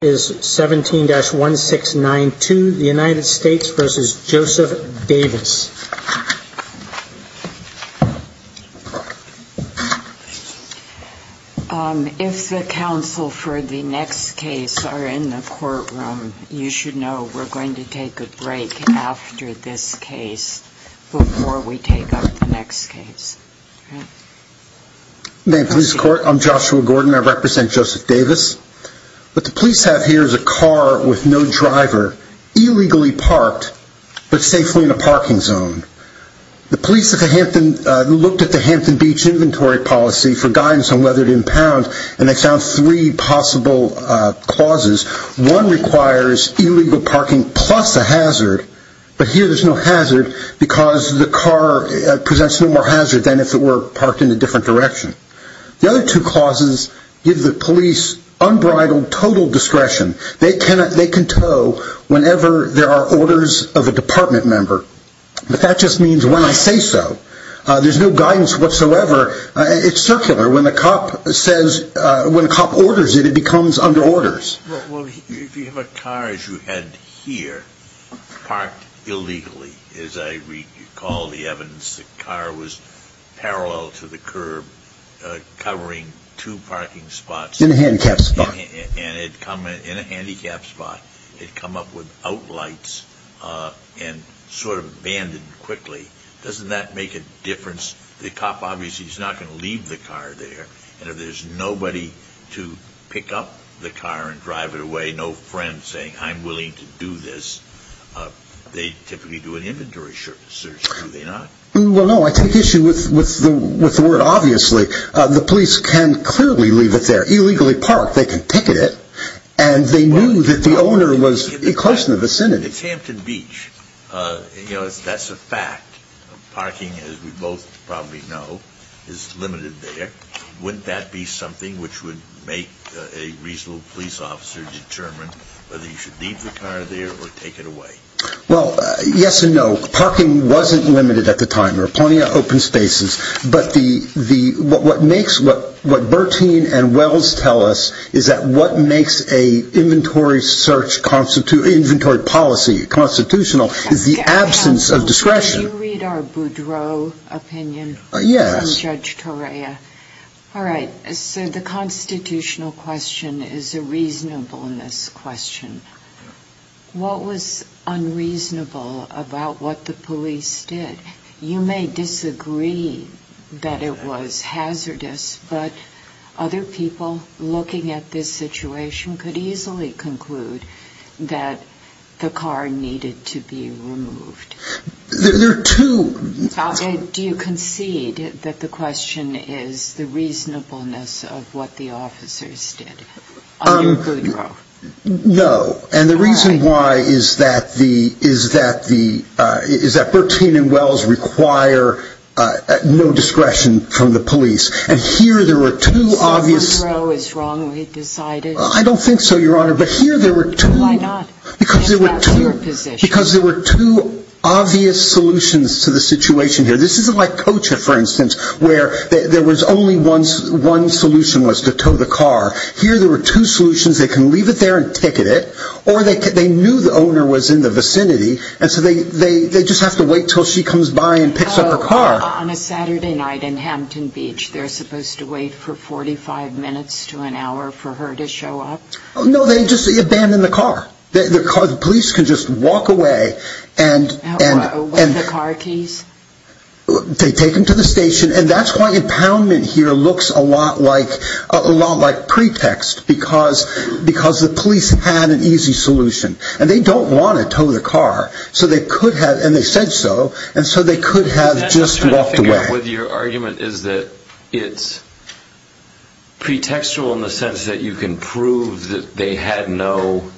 If the counsel for the next case are in the courtroom, you should know we're going to take a break after this case before we take up the next case. I'm Joshua Gordon. I represent Joseph Davis. What the police have here is a car with no driver, illegally parked, but safely in a parking zone. The police looked at the Hampton Beach Inventory Policy for guidance on whether to impound, and they found three possible clauses. One requires illegal parking plus a hazard, but here there's no hazard because the car presents no more hazard than if it were parked in a different direction. The other two clauses give the police unbridled total discretion. They can tow whenever there are orders of a department member, but that just means when I say so. There's no guidance whatsoever. It's circular. When a cop orders it, it becomes under orders. Well, if you have a car, as you had here, parked illegally, as I recall the evidence, the car was parallel to the curb, covering two parking spots. In a handicapped spot. In a handicapped spot. It had come up without lights and sort of abandoned quickly. Doesn't that make a difference? The cop obviously is not going to leave the car there, and if there's nobody to pick up the car and drive it away, no friend saying I'm willing to do this, they typically do an inventory search, do they not? Well, no, I take issue with the word obviously. The police can clearly leave it there, illegally parked. They can picket it, and they knew that the owner was close to the vicinity. In Hampton Beach, that's a fact. Parking, as we both probably know, is limited there. Wouldn't that be something which would make a reasonable police officer determine whether you should leave the car there or take it away? Well, yes and no. Parking wasn't limited at the time. There are plenty of open spaces, but what Bertine and Wells tell us is that what makes an inventory search, inventory policy constitutional is the absence of discretion. Can you read our Boudreaux opinion? Yes. From Judge Torea. All right, so the constitutional question is a reasonableness question. What was unreasonable about what the police did? You may disagree that it was hazardous, but other people looking at this situation could easily conclude that the car needed to be removed. There are two. Do you concede that the question is the reasonableness of what the officers did under Boudreaux? No. And the reason why is that Bertine and Wells require no discretion from the police. And here there were two obvious. So Boudreaux is wrongly decided? I don't think so, Your Honor. But here there were two. Why not? Because that's your position. Because there were two obvious solutions to the situation here. This isn't like Kocha, for instance, where there was only one solution was to tow the car. Here there were two solutions. They can leave it there and ticket it. Or they knew the owner was in the vicinity, and so they just have to wait until she comes by and picks up her car. On a Saturday night in Hampton Beach, they're supposed to wait for 45 minutes to an hour for her to show up? No, they just abandon the car. The police can just walk away. What, with the car keys? They take them to the station, and that's why impoundment here looks a lot like pretext, because the police had an easy solution. And they don't want to tow the car, and they said so, and so they could have just walked away. What I'm trying to figure out with your argument is that it's pretextual in the sense that you can prove that they had no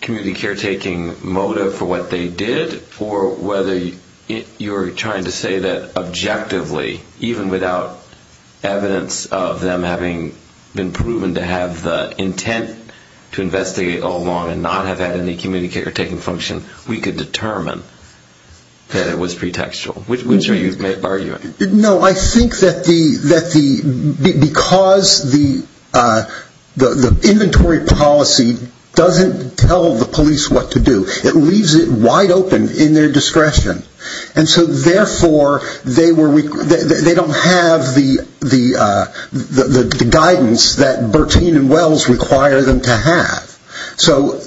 community caretaking motive for what they did, or whether you're trying to say that objectively, even without evidence of them having been proven to have the intent to investigate all along and not have had any community caretaking function, we could determine that it was pretextual. Which are you arguing? No, I think that because the inventory policy doesn't tell the police what to do, it leaves it wide open in their discretion. And so therefore, they don't have the guidance that Bertine and Wells require them to have. So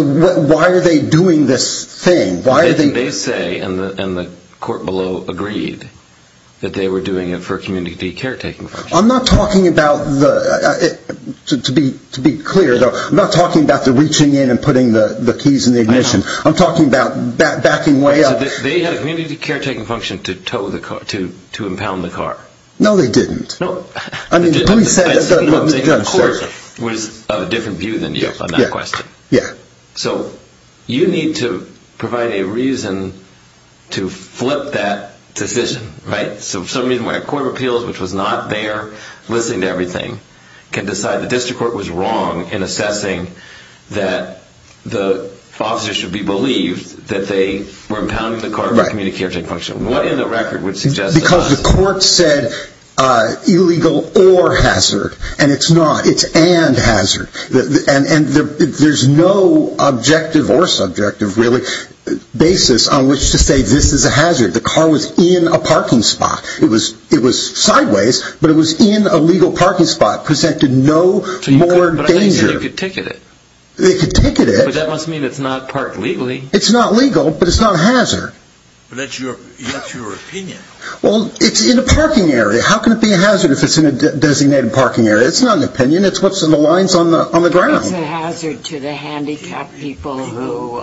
why are they doing this thing? They say, and the court below agreed, that they were doing it for community caretaking function. I'm not talking about, to be clear though, I'm not talking about the reaching in and putting the keys in the ignition. I'm talking about backing way up. They had a community caretaking function to impound the car. No, they didn't. No, I'm saying the court was of a different view than you on that question. So you need to provide a reason to flip that decision, right? So for some reason, when a court of appeals, which was not there listening to everything, can decide the district court was wrong in assessing that the officer should be believed that they were impounding the car for community caretaking function. What in the record would suggest that? Because the court said illegal or hazard, and it's not. It's and hazard. And there's no objective or subjective, really, basis on which to say this is a hazard. The car was in a parking spot. It was sideways, but it was in a legal parking spot. It presented no more danger. But I thought you said you could ticket it. They could ticket it. But that must mean it's not parked legally. It's not legal, but it's not a hazard. But that's your opinion. Well, it's in a parking area. How can it be a hazard if it's in a designated parking area? It's not an opinion. It's what's on the lines on the ground. It is a hazard to the handicapped people who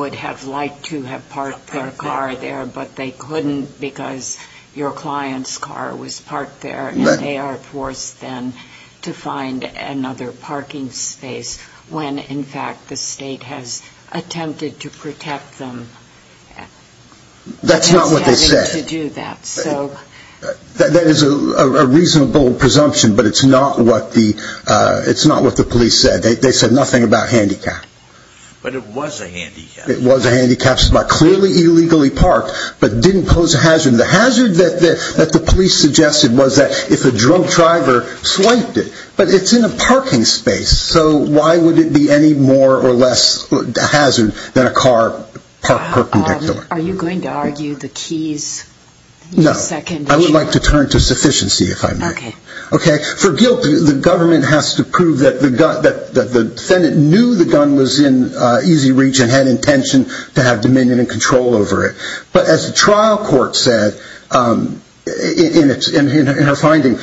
would have liked to have parked their car there, but they couldn't because your client's car was parked there, and they are forced then to find another parking space when, in fact, the state has attempted to protect them. That's not what they said. They're just having to do that. That is a reasonable presumption, but it's not what the police said. They said nothing about handicap. But it was a handicap. It was a handicapped spot, clearly illegally parked, but didn't pose a hazard. The hazard that the police suggested was that if a drunk driver swiped it. But it's in a parking space, so why would it be any more or less a hazard than a car parked perpendicular? Are you going to argue the keys? No. I would like to turn to sufficiency, if I may. Okay. For guilt, the government has to prove that the defendant knew the gun was in easy reach and had intention to have dominion and control over it. But as the trial court said in her finding,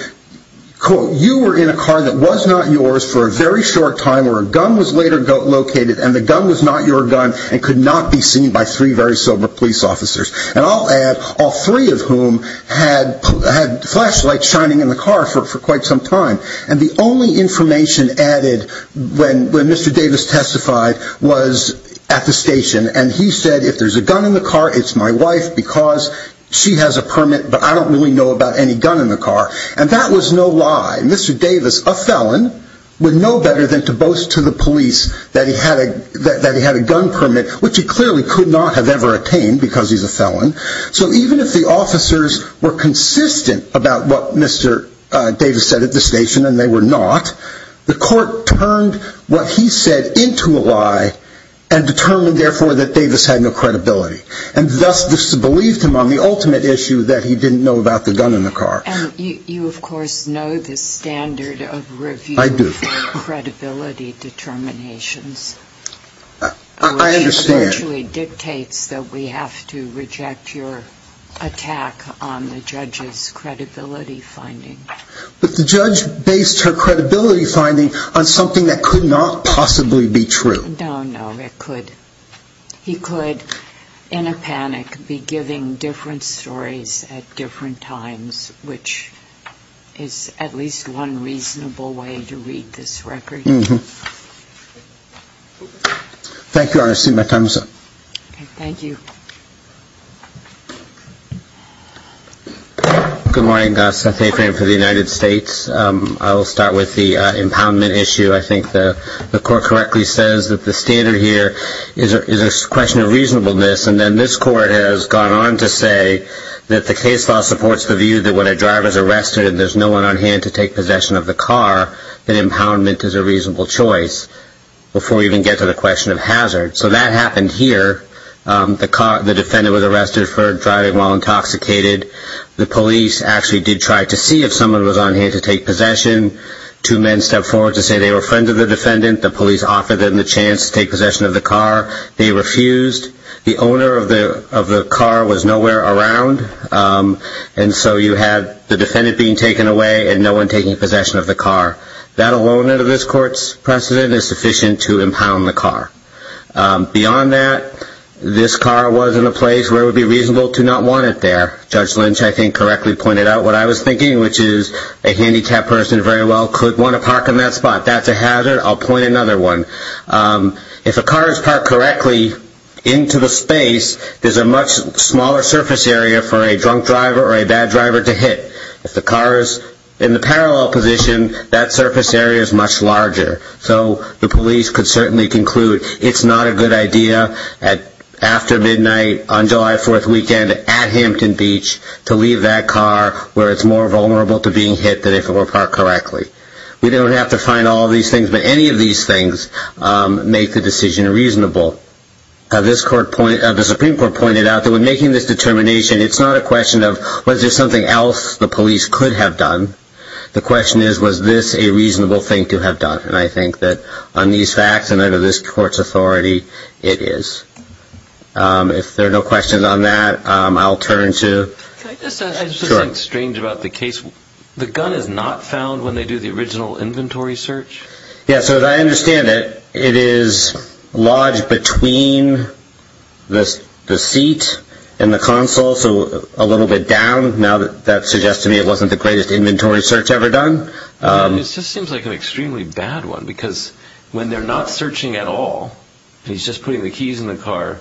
quote, you were in a car that was not yours for a very short time, where a gun was later located, and the gun was not your gun and could not be seen by three very sober police officers. And I'll add, all three of whom had flashlights shining in the car for quite some time. And the only information added when Mr. Davis testified was at the station. And he said, if there's a gun in the car, it's my wife because she has a permit, but I don't really know about any gun in the car. And that was no lie. Mr. Davis, a felon, would know better than to boast to the police that he had a gun permit, which he clearly could not have ever attained because he's a felon. So even if the officers were consistent about what Mr. Davis said at the station, and they were not, the court turned what he said into a lie and determined, therefore, that Davis had no credibility. And thus disbelieved him on the ultimate issue that he didn't know about the gun in the car. And you, of course, know the standard of review of credibility determinations. I understand. Which eventually dictates that we have to reject your attack on the judge's credibility finding. But the judge based her credibility finding on something that could not possibly be true. No, no, it could. He could, in a panic, be giving different stories at different times, which is at least one reasonable way to read this record. Thank you. Thank you, Your Honor. I see my time is up. Thank you. Good morning. Seth Afran for the United States. I will start with the impoundment issue. I think the court correctly says that the standard here is a question of reasonableness, and then this court has gone on to say that the case law supports the view that when a driver is arrested and there's no one on hand to take possession of the car, that impoundment is a reasonable choice before we even get to the question of hazard. So that happened here. The defendant was arrested for driving while intoxicated. The police actually did try to see if someone was on hand to take possession. Two men stepped forward to say they were friends of the defendant. The police offered them the chance to take possession of the car. They refused. The owner of the car was nowhere around. And so you had the defendant being taken away and no one taking possession of the car. That alone under this court's precedent is sufficient to impound the car. Beyond that, this car was in a place where it would be reasonable to not want it there. Judge Lynch, I think, correctly pointed out what I was thinking, which is a handicapped person very well could want to park in that spot. That's a hazard. I'll point another one. If a car is parked correctly into the space, there's a much smaller surface area for a drunk driver or a bad driver to hit. If the car is in the parallel position, that surface area is much larger. So the police could certainly conclude it's not a good idea after midnight on July 4th weekend at Hampton Beach to leave that car where it's more vulnerable to being hit than if it were parked correctly. We don't have to find all these things, but any of these things make the decision reasonable. The Supreme Court pointed out that when making this determination, it's not a question of was there something else the police could have done. The question is, was this a reasonable thing to have done? And I think that on these facts and under this court's authority, it is. If there are no questions on that, I'll turn to… I just think it's strange about the case. The gun is not found when they do the original inventory search? Yeah, so as I understand it, it is lodged between the seat and the console, so a little bit down. Now that suggests to me it wasn't the greatest inventory search ever done. It just seems like an extremely bad one because when they're not searching at all, he's just putting the keys in the car,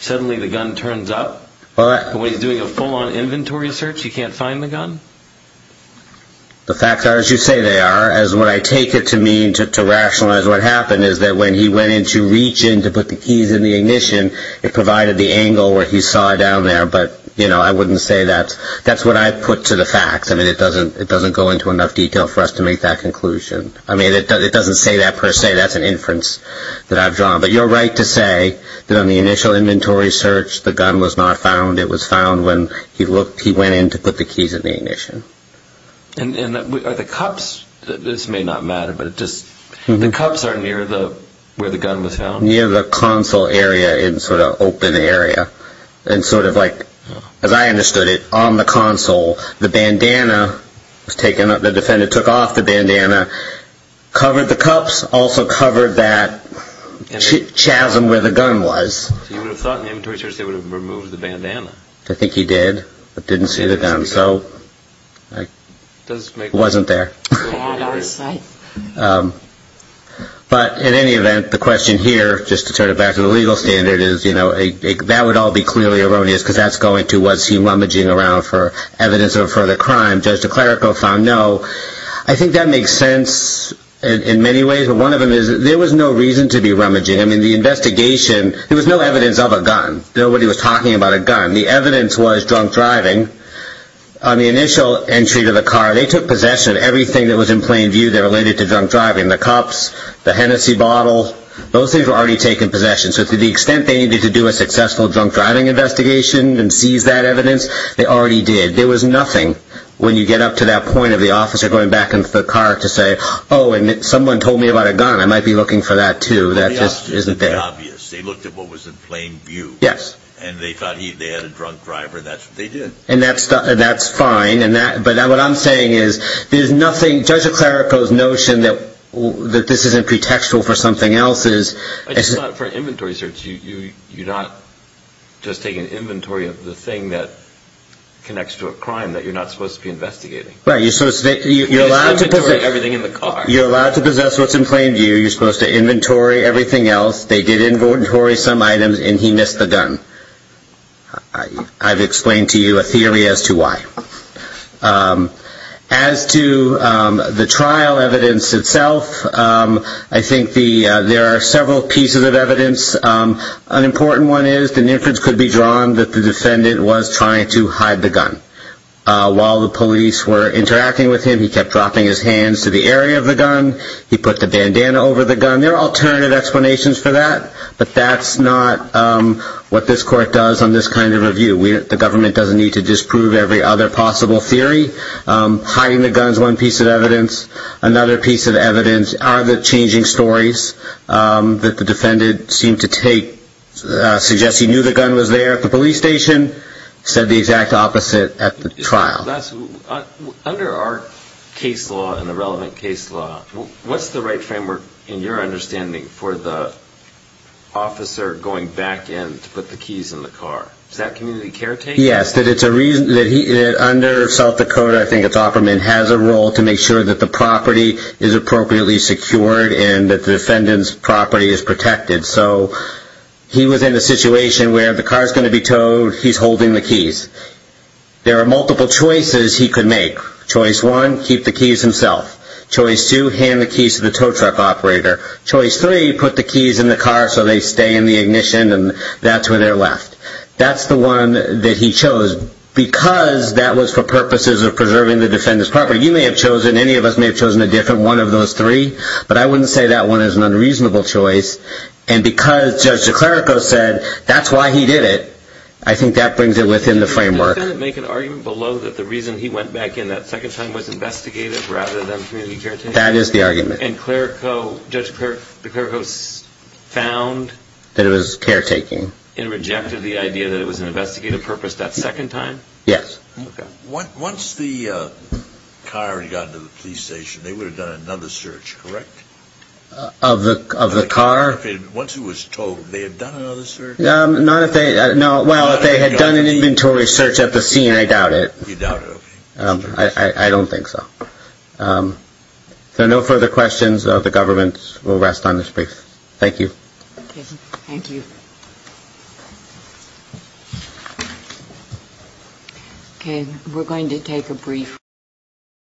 suddenly the gun turns up. When he's doing a full-on inventory search, you can't find the gun? The facts are as you say they are. What I take it to mean, to rationalize what happened, is that when he went in to reach in to put the keys in the ignition, it provided the angle where he saw down there, but I wouldn't say that's… That's what I put to the facts. I mean, it doesn't go into enough detail for us to make that conclusion. I mean, it doesn't say that per se. That's an inference that I've drawn. But you're right to say that on the initial inventory search, the gun was not found. It was found when he went in to put the keys in the ignition. And are the cups…this may not matter, but the cups are near where the gun was found? Near the console area, in sort of open area. And sort of like, as I understood it, on the console, the bandana was taken… the defendant took off the bandana, covered the cups, also covered that chasm where the gun was. So you would have thought in the inventory search they would have removed the bandana? I think he did, but didn't see the gun. So it wasn't there. Yeah, that's right. But in any event, the question here, just to turn it back to the legal standard, is that would all be clearly erroneous because that's going to… was he rummaging around for evidence of a further crime? Judge DeClerico found no. I think that makes sense in many ways, but one of them is there was no reason to be rummaging. I mean, the investigation, there was no evidence of a gun. Nobody was talking about a gun. The evidence was drunk driving. On the initial entry to the car, they took possession of everything that was in plain view that related to drunk driving. The cups, the Hennessy bottle, those things were already taken possession. So to the extent they needed to do a successful drunk driving investigation and seize that evidence, they already did. There was nothing when you get up to that point of the officer going back into the car to say, oh, and someone told me about a gun. I might be looking for that, too. That just isn't there. Well, the officers did the obvious. They looked at what was in plain view. Yes. And they thought they had a drunk driver, and that's what they did. And that's fine, but what I'm saying is there's nothing… Judge DeClerico's notion that this isn't pretextual for something else is… It's not for an inventory search. You're not just taking inventory of the thing that connects to a crime that you're not supposed to be investigating. You're allowed to possess what's in plain view. You're supposed to inventory everything else. They did inventory some items, and he missed the gun. I've explained to you a theory as to why. As to the trial evidence itself, I think there are several pieces of evidence. An important one is the inference could be drawn that the defendant was trying to hide the gun. While the police were interacting with him, he kept dropping his hands to the area of the gun. He put the bandana over the gun. There are alternative explanations for that, but that's not what this court does on this kind of review. The government doesn't need to disprove every other possible theory. Hiding the gun is one piece of evidence. Another piece of evidence are the changing stories that the defendant seemed to take… suggest he knew the gun was there at the police station, said the exact opposite at the trial. Under our case law and the relevant case law, what's the right framework in your understanding for the officer going back in to put the keys in the car? Is that community care taking? Yes, under South Dakota, I think it's Offerman, has a role to make sure that the property is appropriately secured and that the defendant's property is protected. He was in a situation where the car is going to be towed, he's holding the keys. There are multiple choices he could make. Choice one, keep the keys himself. Choice two, hand the keys to the tow truck operator. Choice three, put the keys in the car so they stay in the ignition and that's where they're left. That's the one that he chose because that was for purposes of preserving the defendant's property. You may have chosen, any of us may have chosen a different one of those three, but I wouldn't say that one is an unreasonable choice. And because Judge DeClerico said that's why he did it, I think that brings it within the framework. Does the defendant make an argument below that the reason he went back in that second time was investigative rather than community care taking? That is the argument. And DeClerico, Judge DeClerico found that it was care taking and rejected the idea that it was an investigative purpose that second time? Yes. Once the car had gotten to the police station, they would have done another search, correct? Of the car? Once it was towed, they had done another search? Not if they, well, if they had done an inventory search at the scene, I doubt it. You doubt it, okay. I don't think so. If there are no further questions, the government will rest on this brief. Thank you. Okay, thank you. Okay, we're going to take a brief.